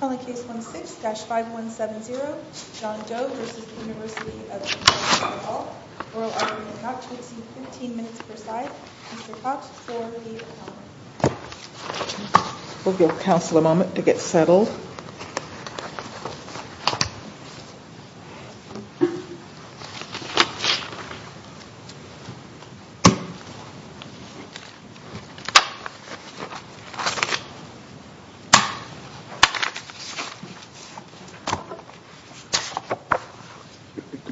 Calling Case 16-5170, John Doe v. University of Kentucky Hall. Oral argument not to exceed 15 minutes per side. Mr. Cox for the comment. We'll give counsel a moment to get settled.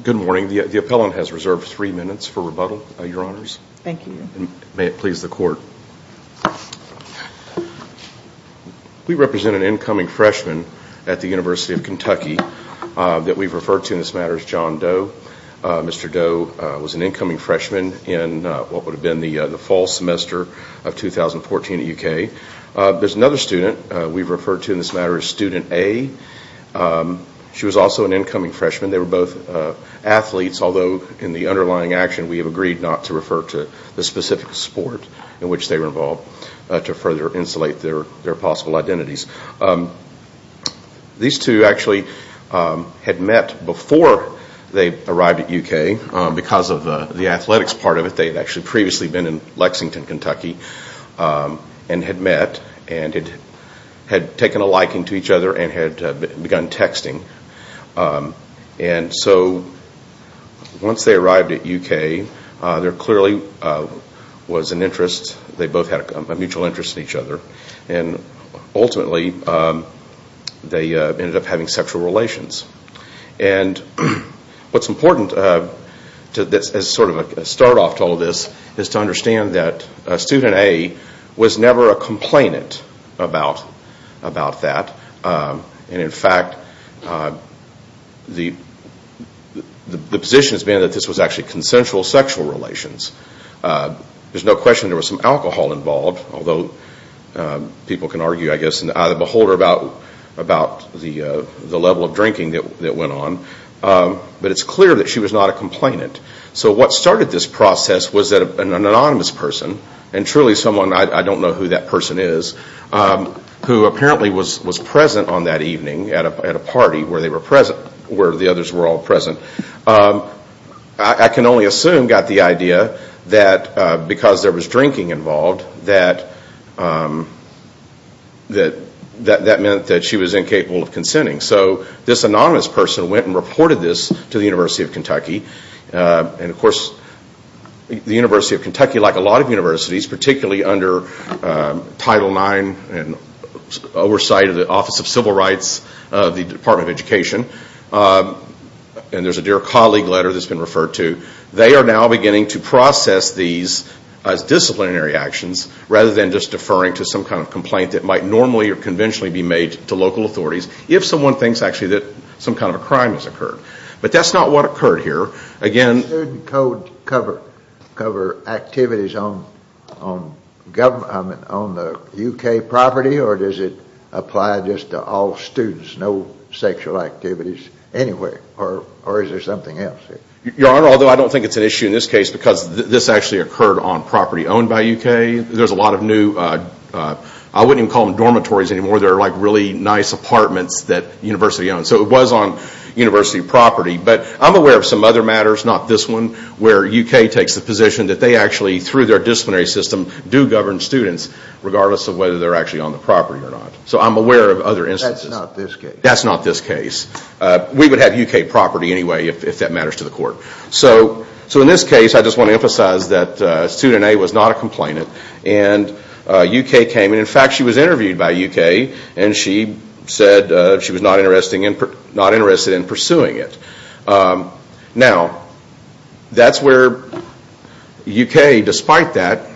Good morning. The appellant has reserved three minutes for rebuttal, your honors. Thank you. May it please the court. We represent an incoming freshman at the University of Kentucky that we've referred to in this matter as John Doe. Mr. Doe was an incoming freshman in what would have been the fall semester of 2014 at UK. There's another student we've referred to in this matter as Student A. She was also an incoming freshman. They were both athletes, although in the underlying action we have agreed not to refer to the specific sport in which they were involved to further insulate their possible identities. These two actually had met before they arrived at UK because of the athletics part of it. They had actually previously been in Lexington, Kentucky and had met and had taken a liking to each other and had begun texting. Once they arrived at UK, there clearly was an interest. They both had a mutual interest in each other. Ultimately, they ended up having sexual relations. What's important as sort of a start off to all of this is to understand that Student A was never a complainant about that. In fact, the position has been that this was actually consensual sexual relations. There's no question there was some alcohol involved, although people can argue, I guess, out of the beholder about the level of drinking that went on. It's clear that she was not a complainant. What started this process was that an anonymous person, and truly someone, I don't know who that person is, who apparently was present on that evening at a party where the others were all present. I can only assume got the idea that because there was drinking involved, that meant that she was incapable of consenting. This anonymous person went and reported this to the University of Kentucky. Of course, the University of Kentucky, like a lot of universities, particularly under Title IX and oversight of the Office of Civil Rights, the Department of Education, and there's a dear colleague letter that's been referred to, they are now beginning to process these as disciplinary actions rather than just deferring to some kind of complaint that might normally or conventionally be made to local authorities if someone thinks actually that some kind of a crime has occurred. But that's not what occurred here. Does the student code cover activities on government, on the UK property, or does it apply just to all students, no sexual activities anywhere, or is there something else? Your Honor, although I don't think it's an issue in this case because this actually occurred on property owned by UK, there's a lot of new, I wouldn't even call them dormitories anymore, they're like really nice apartments that the university owns. So it was on university property. But I'm aware of some other matters, not this one, where UK takes the position that they actually, through their disciplinary system, do govern students regardless of whether they're actually on the property or not. So I'm aware of other instances. That's not this case. That's not this case. We would have UK property anyway if that matters to the court. So in this case, I just want to emphasize that student A was not a complainant, and UK came. In fact, she was interviewed by UK, and she said she was not interested in pursuing it. Now, that's where UK, despite that,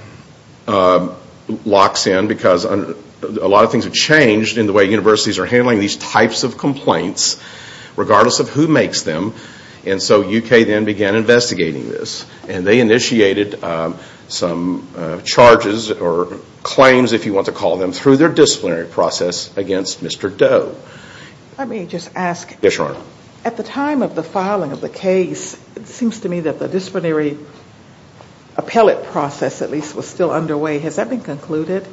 locks in because a lot of things have changed in the way universities are handling these types of complaints, regardless of who makes them. And so UK then began investigating this. And they initiated some charges or claims, if you want to call them, through their disciplinary process against Mr. Doe. Let me just ask. Yes, Your Honor. At the time of the filing of the case, it seems to me that the disciplinary appellate process, at least, was still underway. Has that been concluded?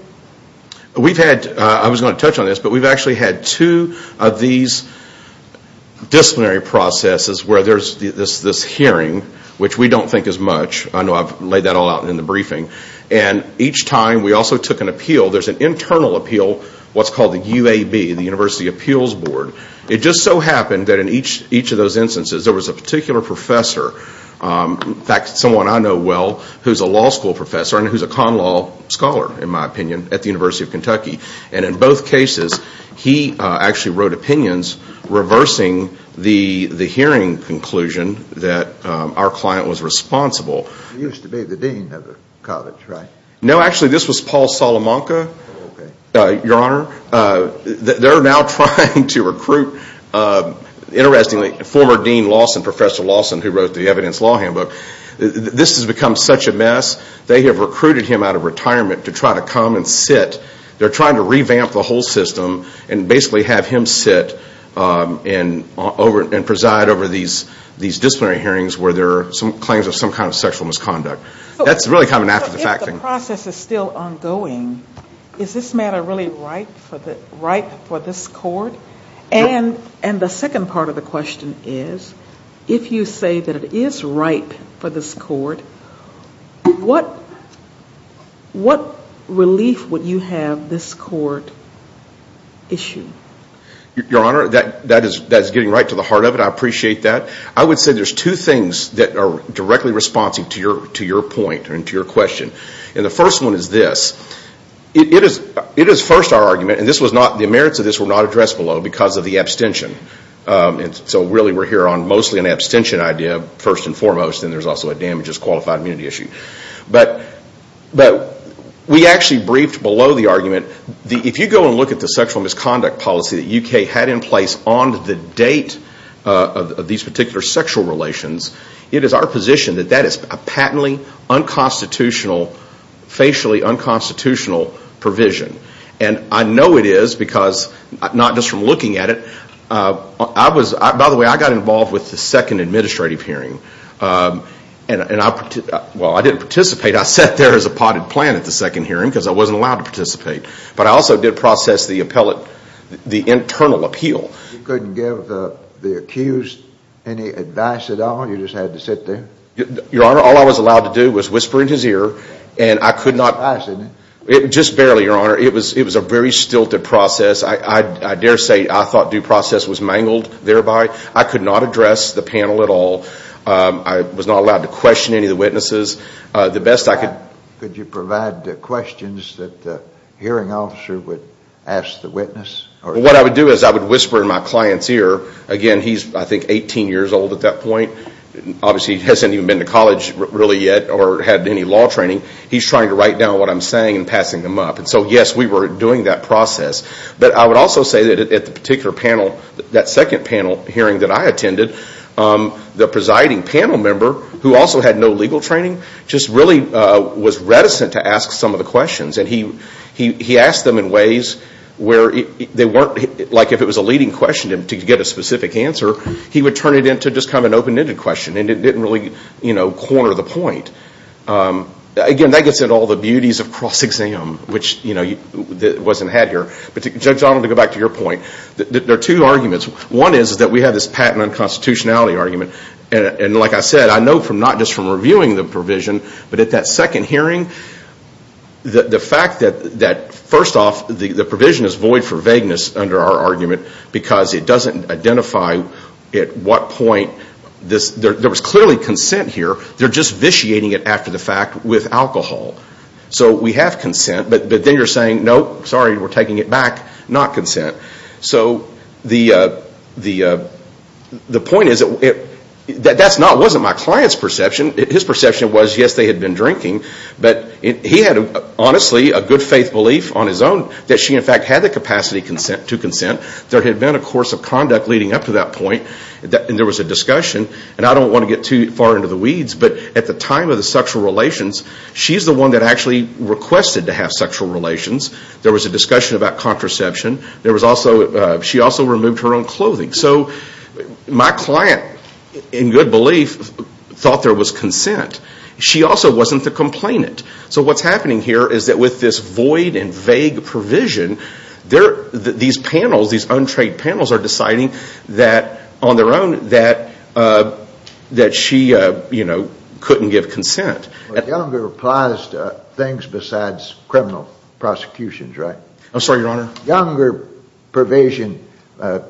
We've had, I was going to touch on this, but we've actually had two of these disciplinary processes where there's this hearing, which we don't think is much. I know I've laid that all out in the briefing. And each time, we also took an appeal. There's an internal appeal, what's called the UAB, the University Appeals Board. It just so happened that in each of those instances, there was a particular professor, in fact, someone I know well, who's a law school professor and who's a con law scholar, in my opinion, at the University of Kentucky. And in both cases, he actually wrote opinions reversing the hearing conclusion that our client was responsible. He used to be the dean of the college, right? No, actually, this was Paul Salamanca, Your Honor. They're now trying to recruit, interestingly, former Dean Lawson, Professor Lawson, who wrote the evidence law handbook. This has become such a mess. They have recruited him out of retirement to try to come and sit. They're trying to revamp the whole system and basically have him sit and preside over these disciplinary hearings where there are claims of some kind of sexual misconduct. That's really coming after the fact thing. If the process is still ongoing, is this matter really ripe for this court? And the second part of the question is, if you say that it is ripe for this court, what relief would you have this court issue? Your Honor, that is getting right to the heart of it. I appreciate that. I would say there's two things that are directly responsive to your point and to your question. And the first one is this. It is first our argument, and the merits of this were not addressed below because of the abstention. So really we're here on mostly an abstention idea, first and foremost, and there's also a damages qualified immunity issue. But we actually briefed below the argument. If you go and look at the sexual misconduct policy that UK had in place on the date of these particular sexual relations, it is our position that that is a patently unconstitutional, facially unconstitutional provision. And I know it is because not just from looking at it. By the way, I got involved with the second administrative hearing. Well, I didn't participate. I sat there as a potted plant at the second hearing because I wasn't allowed to participate. But I also did process the internal appeal. You couldn't give the accused any advice at all? You just had to sit there? Your Honor, all I was allowed to do was whisper in his ear, and I could not. Just barely, Your Honor. It was a very stilted process. I dare say I thought due process was mangled thereby. I could not address the panel at all. I was not allowed to question any of the witnesses. The best I could. Could you provide questions that the hearing officer would ask the witness? What I would do is I would whisper in my client's ear. Again, he's, I think, 18 years old at that point. Obviously he hasn't even been to college really yet or had any law training. He's trying to write down what I'm saying and passing them up. So, yes, we were doing that process. But I would also say that at the particular panel, that second panel hearing that I attended, the presiding panel member, who also had no legal training, just really was reticent to ask some of the questions. He asked them in ways where they weren't, like if it was a leading question to get a specific answer, he would turn it into just kind of an open-ended question and it didn't really corner the point. Again, that gets into all the beauties of cross-exam, which wasn't had here. But Judge Donald, to go back to your point, there are two arguments. One is that we have this patent unconstitutionality argument. And like I said, I know not just from reviewing the provision, but at that second hearing, the fact that first off the provision is void for vagueness under our argument because it doesn't identify at what point there was clearly consent here. They're just vitiating it after the fact with alcohol. So we have consent, but then you're saying, no, sorry, we're taking it back, not consent. So the point is that that wasn't my client's perception. His perception was, yes, they had been drinking. But he had honestly a good faith belief on his own that she in fact had the capacity to consent. There had been a course of conduct leading up to that point and there was a discussion. And I don't want to get too far into the weeds, but at the time of the sexual relations, she's the one that actually requested to have sexual relations. There was a discussion about contraception. She also removed her own clothing. So my client, in good belief, thought there was consent. She also wasn't the complainant. So what's happening here is that with this void and vague provision, these panels, these untrained panels are deciding that on their own that she couldn't give consent. Younger applies to things besides criminal prosecutions, right? I'm sorry, Your Honor. Younger provision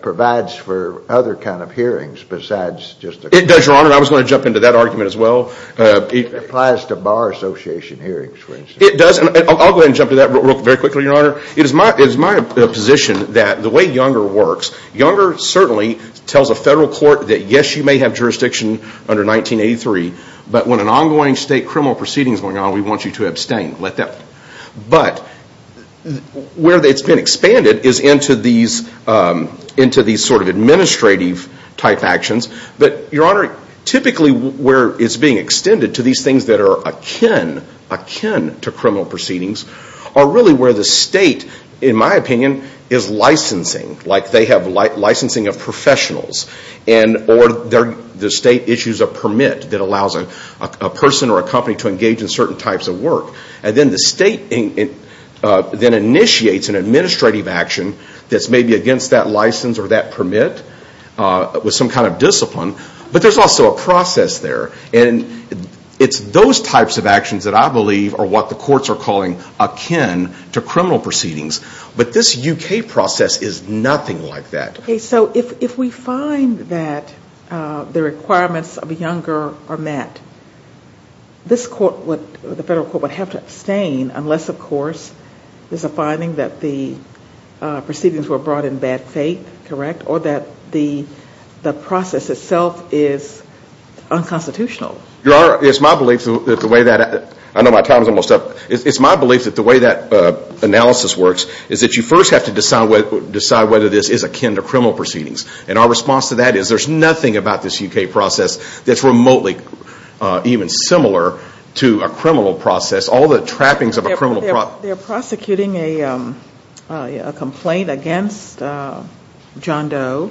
provides for other kind of hearings besides just a criminal one. It does, Your Honor. I was going to jump into that argument as well. It applies to bar association hearings, for instance. It does. I'll go ahead and jump to that very quickly, Your Honor. It is my position that the way Younger works, Younger certainly tells a federal court that, yes, you may have jurisdiction under 1983, but when an ongoing state criminal proceeding is going on, we want you to abstain. But where it's been expanded is into these sort of administrative-type actions. But, Your Honor, typically where it's being extended to these things that are akin to criminal proceedings are really where the state, in my opinion, is licensing. Like they have licensing of professionals. Or the state issues a permit that allows a person or a company to engage in certain types of work. And then the state then initiates an administrative action that's maybe against that license or that permit with some kind of discipline. But there's also a process there. And it's those types of actions that I believe are what the courts are calling akin to criminal proceedings. But this U.K. process is nothing like that. Okay. So if we find that the requirements of Younger are met, this court, the federal court, would have to abstain unless, of course, there's a finding that the proceedings were brought in bad faith, correct, or that the process itself is unconstitutional. Your Honor, it's my belief that the way that analysis works is that you first have to decide whether this is akin to criminal proceedings. And our response to that is there's nothing about this U.K. process that's remotely even similar to a criminal process. All the trappings of a criminal process. Well, they're prosecuting a complaint against John Doe.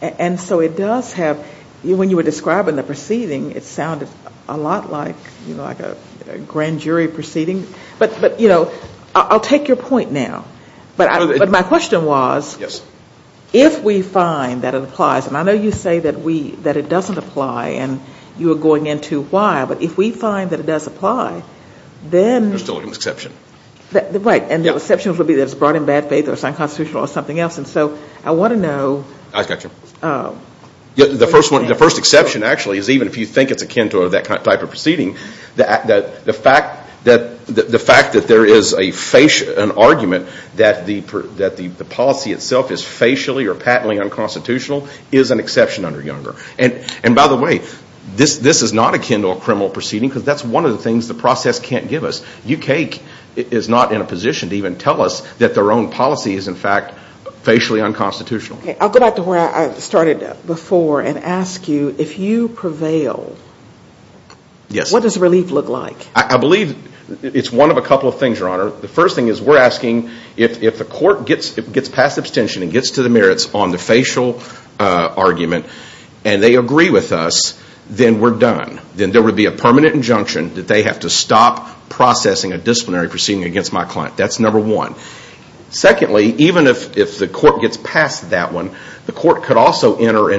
And so it does have, when you were describing the proceeding, it sounded a lot like a grand jury proceeding. But, you know, I'll take your point now. But my question was, if we find that it applies, and I know you say that it doesn't apply and you were going into why, but if we find that it does apply, then. There's still an exception. Right. And the exceptions would be that it's brought in bad faith or it's unconstitutional or something else. And so I want to know. I got you. The first exception, actually, is even if you think it's akin to that type of proceeding, the fact that there is an argument that the policy itself is facially or patently unconstitutional is an exception under Younger. And, by the way, this is not akin to a criminal proceeding because that's one of the things the process can't give us. UK is not in a position to even tell us that their own policy is, in fact, facially unconstitutional. I'll go back to where I started before and ask you, if you prevail, what does relief look like? I believe it's one of a couple of things, Your Honor. The first thing is we're asking if the court gets past abstention and gets to the merits on the facial argument and they agree with us, then we're done. Then there would be a permanent injunction that they have to stop processing a disciplinary proceeding against my client. That's number one. Secondly, even if the court gets past that one, the court could also enter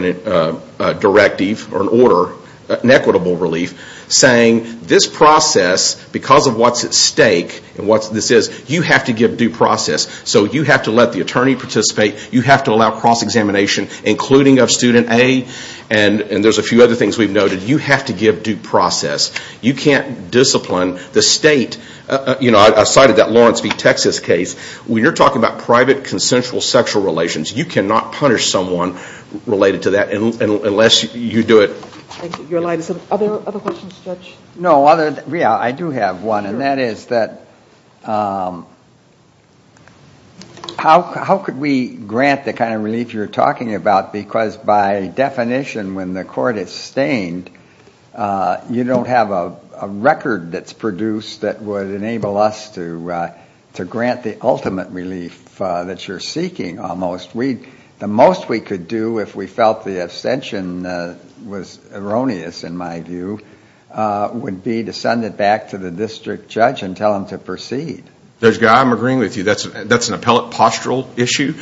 a directive or an order, an equitable relief, saying this process, because of what's at stake and what this is, you have to give due process. So you have to let the attorney participate. You have to allow cross-examination, including of student A. And there's a few other things we've noted. You have to give due process. You can't discipline the state. I cited that Lawrence v. Texas case. When you're talking about private consensual sexual relations, you cannot punish someone related to that unless you do it. Are there other questions, Judge? No, I do have one, and that is that how could we grant the kind of relief you're talking about? Because by definition, when the court is stained, you don't have a record that's produced that would enable us to grant the ultimate relief that you're seeking, almost. The most we could do if we felt the abstention was erroneous, in my view, would be to send it back to the district judge and tell him to proceed. Judge Guy, I'm agreeing with you. That's an appellate postural issue,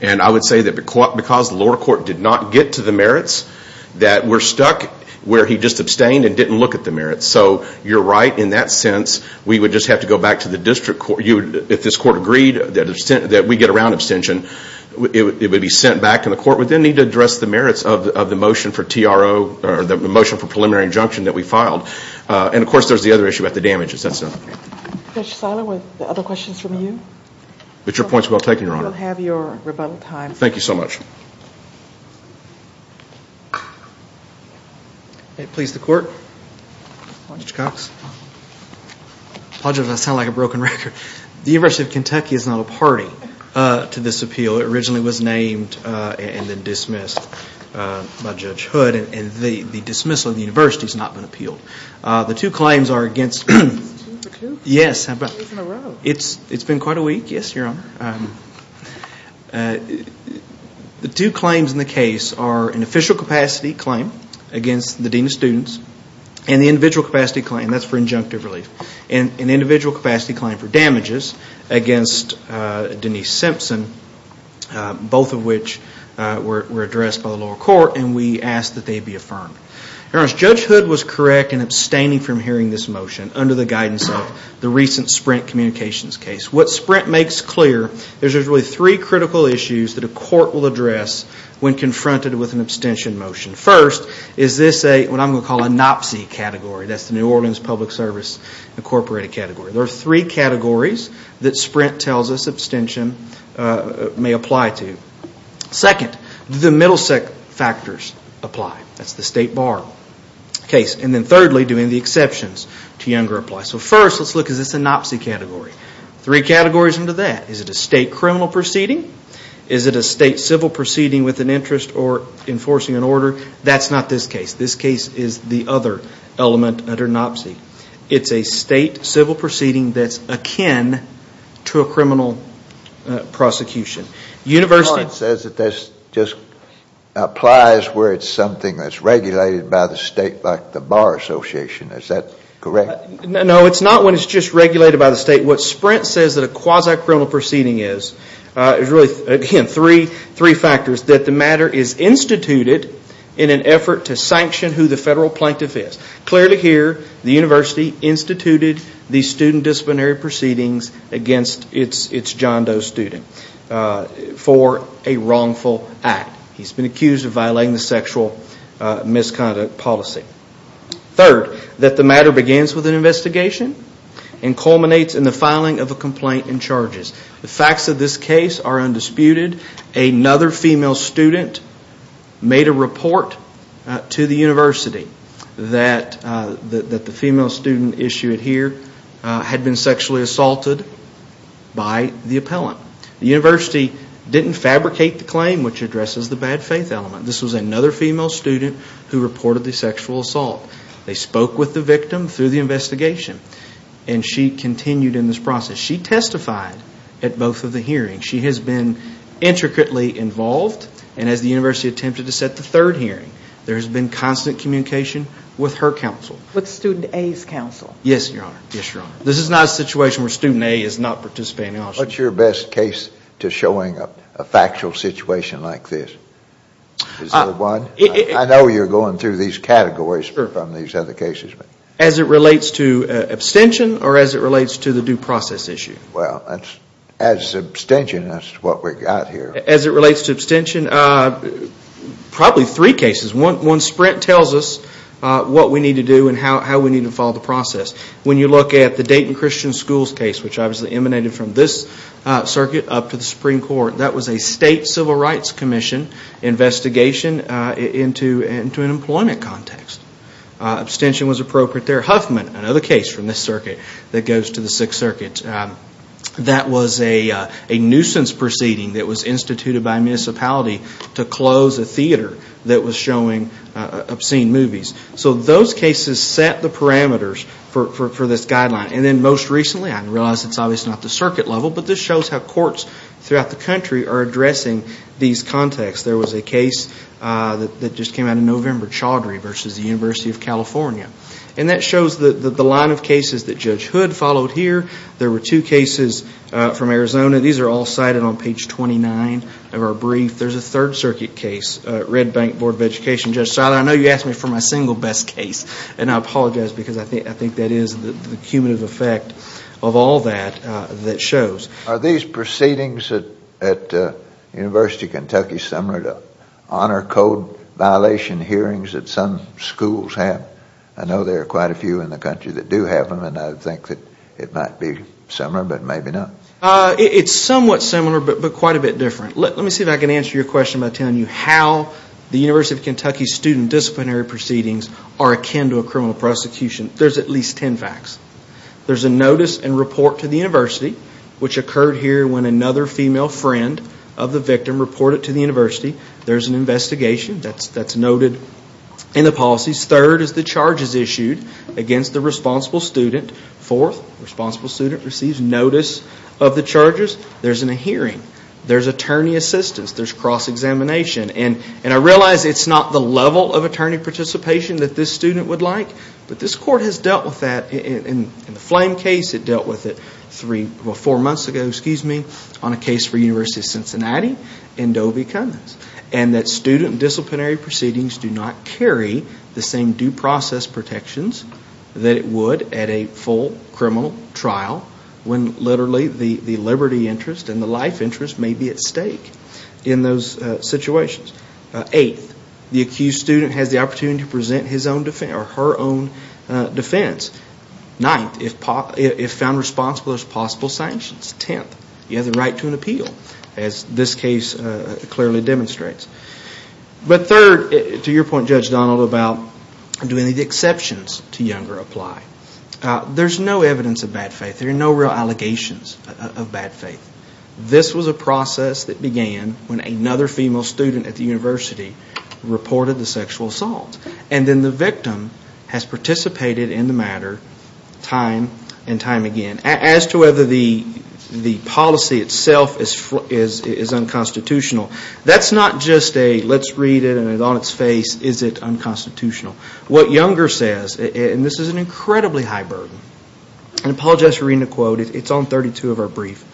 and I would say that because the lower court did not get to the merits, that we're stuck where he just abstained and didn't look at the merits. So you're right in that sense. We would just have to go back to the district court. If this court agreed that we get a round abstention, it would be sent back, and the court would then need to address the merits of the motion for TRO or the motion for preliminary injunction that we filed. And, of course, there's the other issue about the damages. That's it. Judge Silo, were there other questions from you? But your point's well taken, Your Honor. You'll have your rebuttal time. Thank you so much. Please, the court. Judge Cox. Apologies, I sound like a broken record. The University of Kentucky is not a party to this appeal. It originally was named and then dismissed by Judge Hood, and the dismissal of the university has not been appealed. The two claims are against – It's two for two? Yes. Two in a row. It's been quite a week, yes, Your Honor. The two claims in the case are an official capacity claim against the dean of students and the individual capacity claim – that's for injunctive relief – and an individual capacity claim for damages against Denise Simpson, both of which were addressed by the lower court, and we asked that they be affirmed. Your Honor, Judge Hood was correct in abstaining from hearing this motion under the guidance of the recent Sprint Communications case. What Sprint makes clear is there's really three critical issues that a court will address when confronted with an abstention motion. First, is this what I'm going to call a NOPSI category. That's the New Orleans Public Service Incorporated category. There are three categories that Sprint tells us abstention may apply to. Second, do the Middlesex factors apply? That's the state bar case. And then thirdly, do any of the exceptions to Younger apply? So first, let's look at this NOPSI category. Three categories under that. Is it a state criminal proceeding? Is it a state civil proceeding with an interest or enforcing an order? That's not this case. This case is the other element under NOPSI. It's a state civil proceeding that's akin to a criminal prosecution. Your Honor says that this just applies where it's something that's regulated by the state, like the bar association. Is that correct? No, it's not when it's just regulated by the state. What Sprint says that a quasi-criminal proceeding is, is really, again, three factors. That the matter is instituted in an effort to sanction who the federal plaintiff is. Clearly here, the university instituted these student disciplinary proceedings against its John Doe student for a wrongful act. He's been accused of violating the sexual misconduct policy. Third, that the matter begins with an investigation and culminates in the filing of a complaint and charges. The facts of this case are undisputed. Another female student made a report to the university that the female student issued here had been sexually assaulted by the appellant. The university didn't fabricate the claim, which addresses the bad faith element. This was another female student who reported the sexual assault. They spoke with the victim through the investigation. And she continued in this process. She testified at both of the hearings. She has been intricately involved. And as the university attempted to set the third hearing, there has been constant communication with her counsel. With student A's counsel. Yes, Your Honor. Yes, Your Honor. This is not a situation where student A is not participating. What's your best case to showing a factual situation like this? Is there one? I know you're going through these categories from these other cases. As it relates to abstention or as it relates to the due process issue? Well, as abstention, that's what we've got here. As it relates to abstention, probably three cases. One sprint tells us what we need to do and how we need to follow the process. When you look at the Dayton Christian Schools case, which obviously emanated from this circuit up to the Supreme Court, that was a state civil rights commission investigation into an employment context. Abstention was appropriate there. Huffman, another case from this circuit that goes to the Sixth Circuit. That was a nuisance proceeding that was instituted by a municipality to close a theater that was showing obscene movies. So those cases set the parameters for this guideline. And then most recently, I realize it's obviously not the circuit level, but this shows how courts throughout the country are addressing these contexts. There was a case that just came out in November, Chaudhary versus the University of California. And that shows the line of cases that Judge Hood followed here. There were two cases from Arizona. These are all cited on page 29 of our brief. There's a Third Circuit case, Red Bank Board of Education. Judge Seiler, I know you asked me for my single best case, and I apologize because I think that is the cumulative effect of all that that shows. Are these proceedings at the University of Kentucky similar to honor code violation hearings that some schools have? I know there are quite a few in the country that do have them, and I think that it might be similar, but maybe not. It's somewhat similar, but quite a bit different. Let me see if I can answer your question by telling you how the University of Kentucky student disciplinary proceedings are akin to a criminal prosecution. There's at least ten facts. There's a notice and report to the university, which occurred here when another female friend of the victim reported to the university. There's an investigation that's noted in the policies. Third is the charges issued against the responsible student. Fourth, the responsible student receives notice of the charges. There's a hearing. There's attorney assistance. There's cross-examination. I realize it's not the level of attorney participation that this student would like, but this court has dealt with that in the Flame case. It dealt with it four months ago on a case for the University of Cincinnati and Dovey-Cummins. Student disciplinary proceedings do not carry the same due process protections that it would at a full criminal trial when literally the liberty interest and the life interest may be at stake in those situations. Eighth, the accused student has the opportunity to present his own defense or her own defense. Ninth, if found responsible, there's possible sanctions. Tenth, you have the right to an appeal, as this case clearly demonstrates. But third, to your point, Judge Donald, about do any of the exceptions to Younger apply. There's no evidence of bad faith. There are no real allegations of bad faith. This was a process that began when another female student at the university reported the sexual assault. And then the victim has participated in the matter time and time again. As to whether the policy itself is unconstitutional, that's not just a let's read it and on its face is it unconstitutional. What Younger says, and this is an incredibly high burden, and I apologize for reading the quote. It's on 32 of our brief.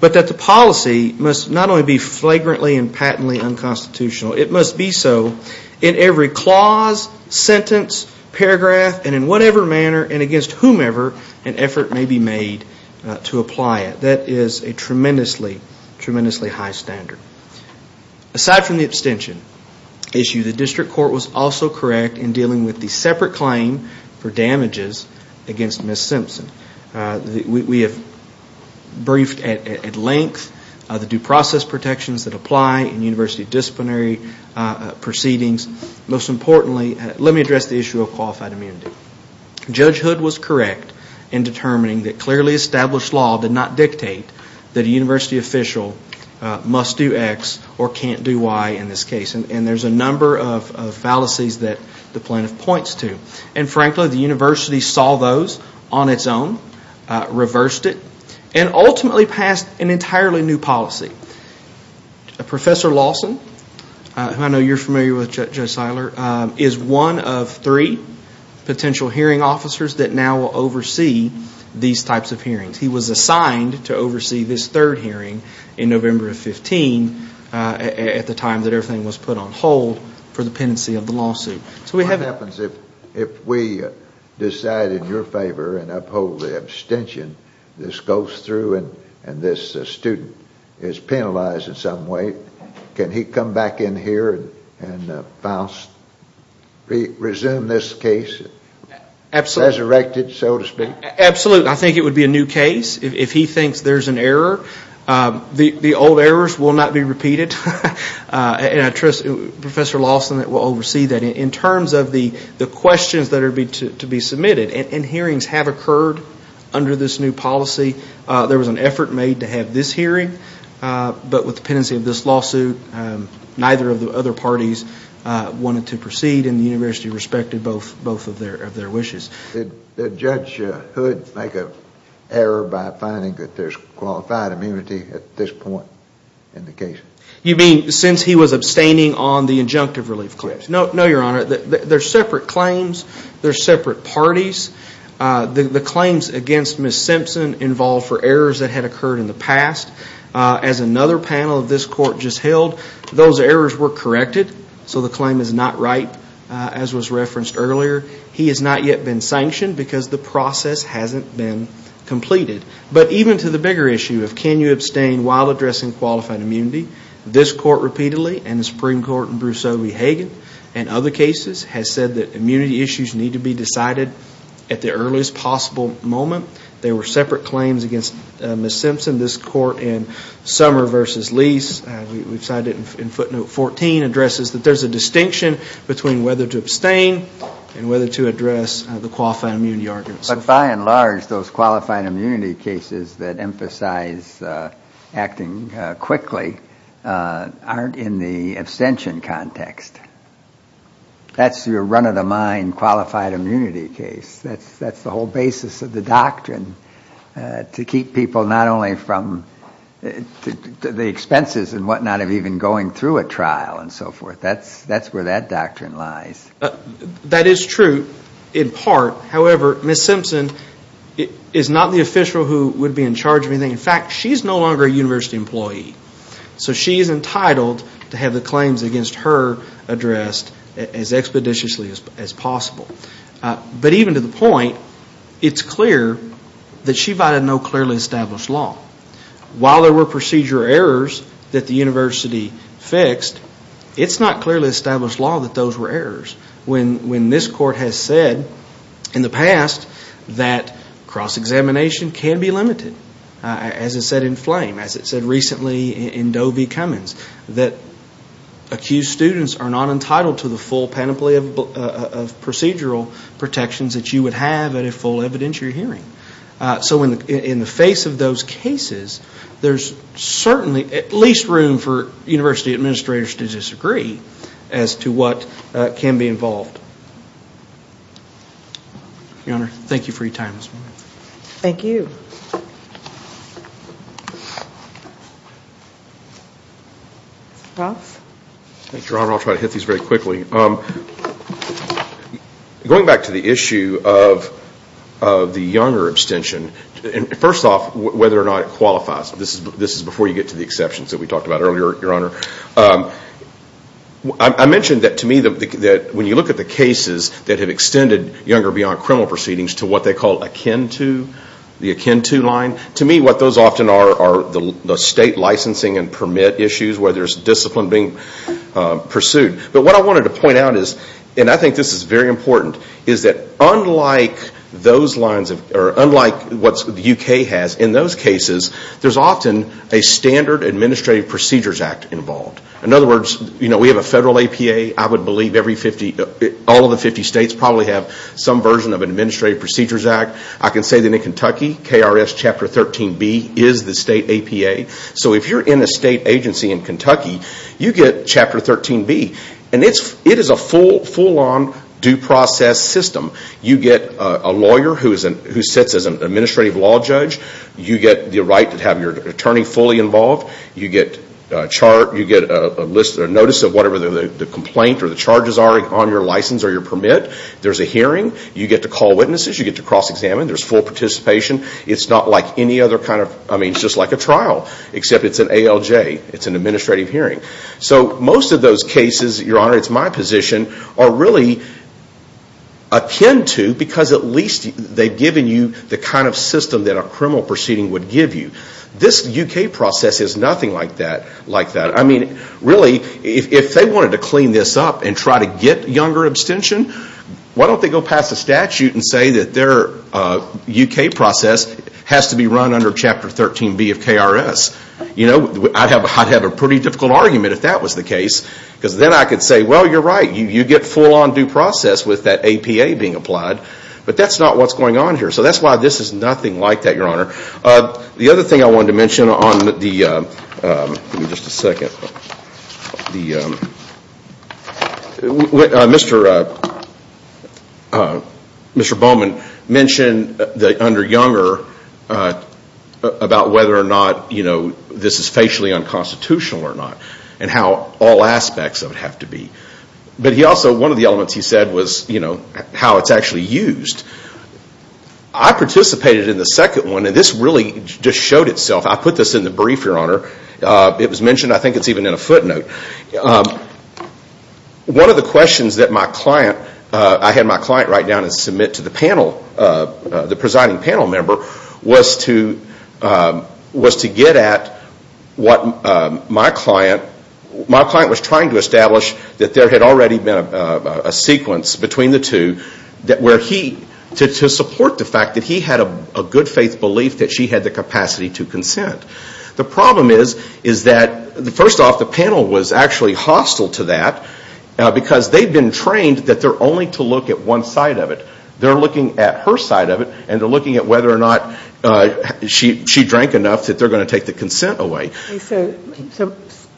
But that the policy must not only be flagrantly and patently unconstitutional, it must be so in every clause, sentence, paragraph, and in whatever manner and against whomever an effort may be made to apply it. That is a tremendously, tremendously high standard. Aside from the abstention issue, the district court was also correct in dealing with the separate claim for damages against Ms. Simpson. We have briefed at length the due process protections that apply in university disciplinary proceedings. Most importantly, let me address the issue of qualified immunity. Judge Hood was correct in determining that clearly established law did not dictate that a university official must do X or can't do Y in this case. And there's a number of fallacies that the plaintiff points to. And frankly, the university saw those on its own, reversed it, and ultimately passed an entirely new policy. Professor Lawson, who I know you're familiar with, Judge Seiler, is one of three potential hearing officers that now will oversee these types of hearings. He was assigned to oversee this third hearing in November of 15 at the time that everything was put on hold for the pendency of the lawsuit. What happens if we decide in your favor and uphold the abstention? This goes through and this student is penalized in some way. Can he come back in here and resume this case, resurrected, so to speak? Absolutely. I think it would be a new case. If he thinks there's an error, the old errors will not be repeated. And I trust Professor Lawson will oversee that. In terms of the questions that are to be submitted, and hearings have occurred under this new policy, there was an effort made to have this hearing, but with the pendency of this lawsuit, neither of the other parties wanted to proceed and the university respected both of their wishes. Did Judge Hood make an error by finding that there's qualified immunity at this point in the case? You mean since he was abstaining on the injunctive relief claims? No, Your Honor. There's separate claims. There's separate parties. The claims against Ms. Simpson involved for errors that had occurred in the past. As another panel of this court just held, those errors were corrected, so the claim is not ripe, as was referenced earlier. He has not yet been sanctioned because the process hasn't been completed. But even to the bigger issue of can you abstain while addressing qualified immunity, this court repeatedly and the Supreme Court in Bruce Obey Hagan and other cases has said that immunity issues need to be decided at the earliest possible moment. There were separate claims against Ms. Simpson. This court in Summer v. Lease, we cite it in footnote 14, addresses that there's a distinction between whether to abstain and whether to address the qualified immunity argument. But by and large, those qualified immunity cases that emphasize acting quickly aren't in the abstention context. That's your run-of-the-mind qualified immunity case. That's the whole basis of the doctrine to keep people not only from the expenses and whatnot of even going through a trial and so forth. That's where that doctrine lies. That is true in part. However, Ms. Simpson is not the official who would be in charge of anything. In fact, she is no longer a university employee. So she is entitled to have the claims against her addressed as expeditiously as possible. But even to the point, it's clear that she violated no clearly established law. While there were procedure errors that the university fixed, it's not clearly established law that those were errors. When this court has said in the past that cross-examination can be limited, as it said in Flame, as it said recently in Doe v. Cummins, that accused students are not entitled to the full panoply of procedural protections that you would have at a full evidentiary hearing. So in the face of those cases, there's certainly at least room for university administrators to disagree as to what can be involved. Your Honor, thank you for your time this morning. Thank you. Mr. Ross. Thank you, Your Honor. I'll try to hit these very quickly. Going back to the issue of the younger abstention, first off, whether or not it qualifies. This is before you get to the exceptions that we talked about earlier, Your Honor. I mentioned that to me that when you look at the cases that have extended younger beyond criminal proceedings to what they call akin to, the akin to line, to me what those often are are the state licensing and permit issues where there's discipline being pursued. But what I wanted to point out is, and I think this is very important, is that unlike what the UK has in those cases, there's often a standard Administrative Procedures Act involved. In other words, we have a federal APA. I would believe all of the 50 states probably have some version of Administrative Procedures Act. I can say that in Kentucky, KRS Chapter 13B is the state APA. If you're in a state agency in Kentucky, you get Chapter 13B. It is a full-on due process system. You get a lawyer who sits as an administrative law judge. You get the right to have your attorney fully involved. You get a notice of whatever the complaint or the charges are on your license or your permit. There's a hearing. You get to call witnesses. You get to cross-examine. There's full participation. It's just like a trial, except it's an ALJ. It's an administrative hearing. Most of those cases, Your Honor, it's my position, are really akin to, because at least they've given you the kind of system that a criminal proceeding would give you. This UK process is nothing like that. Really, if they wanted to clean this up and try to get younger abstention, why don't they go past the statute and say that their UK process has to be run under Chapter 13B of KRS? I'd have a pretty difficult argument if that was the case, because then I could say, well, you're right, you get full-on due process with that APA being applied, but that's not what's going on here. So that's why this is nothing like that, Your Honor. The other thing I wanted to mention on the, give me just a second, Mr. Bowman mentioned under Younger about whether or not this is facially unconstitutional or not, and how all aspects of it have to be. But he also, one of the elements he said was how it's actually used. I participated in the second one, and this really just showed itself. I put this in the brief, Your Honor. It was mentioned, I think it's even in a footnote. One of the questions that my client, I had my client write down and submit to the panel, the presiding panel member, was to get at what my client, my client was trying to establish that there had already been a sequence between the two where he, to support the fact that he had a good faith belief that she had the capacity to consent. The problem is that, first off, the panel was actually hostile to that, because they've been trained that they're only to look at one side of it. They're looking at her side of it, and they're looking at whether or not she drank enough that they're going to take the consent away. So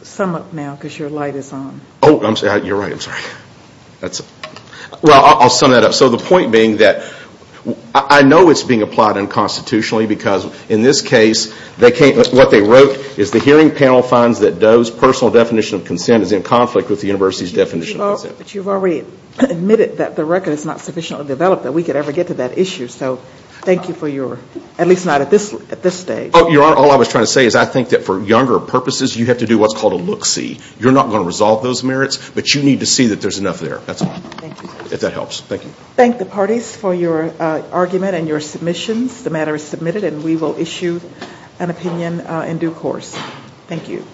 sum up now, because your light is on. Oh, you're right, I'm sorry. Well, I'll sum that up. So the point being that I know it's being applied unconstitutionally, because in this case what they wrote is the hearing panel finds that Doe's personal definition of consent is in conflict with the university's definition of consent. But you've already admitted that the record is not sufficiently developed that we could ever get to that issue. So thank you for your, at least not at this stage. Oh, Your Honor, all I was trying to say is I think that for younger purposes, you have to do what's called a look-see. You're not going to resolve those merits, but you need to see that there's enough there. That's all. Thank you. If that helps. Thank you. Thank the parties for your argument and your submissions. The matter is submitted, and we will issue an opinion in due course. Thank you.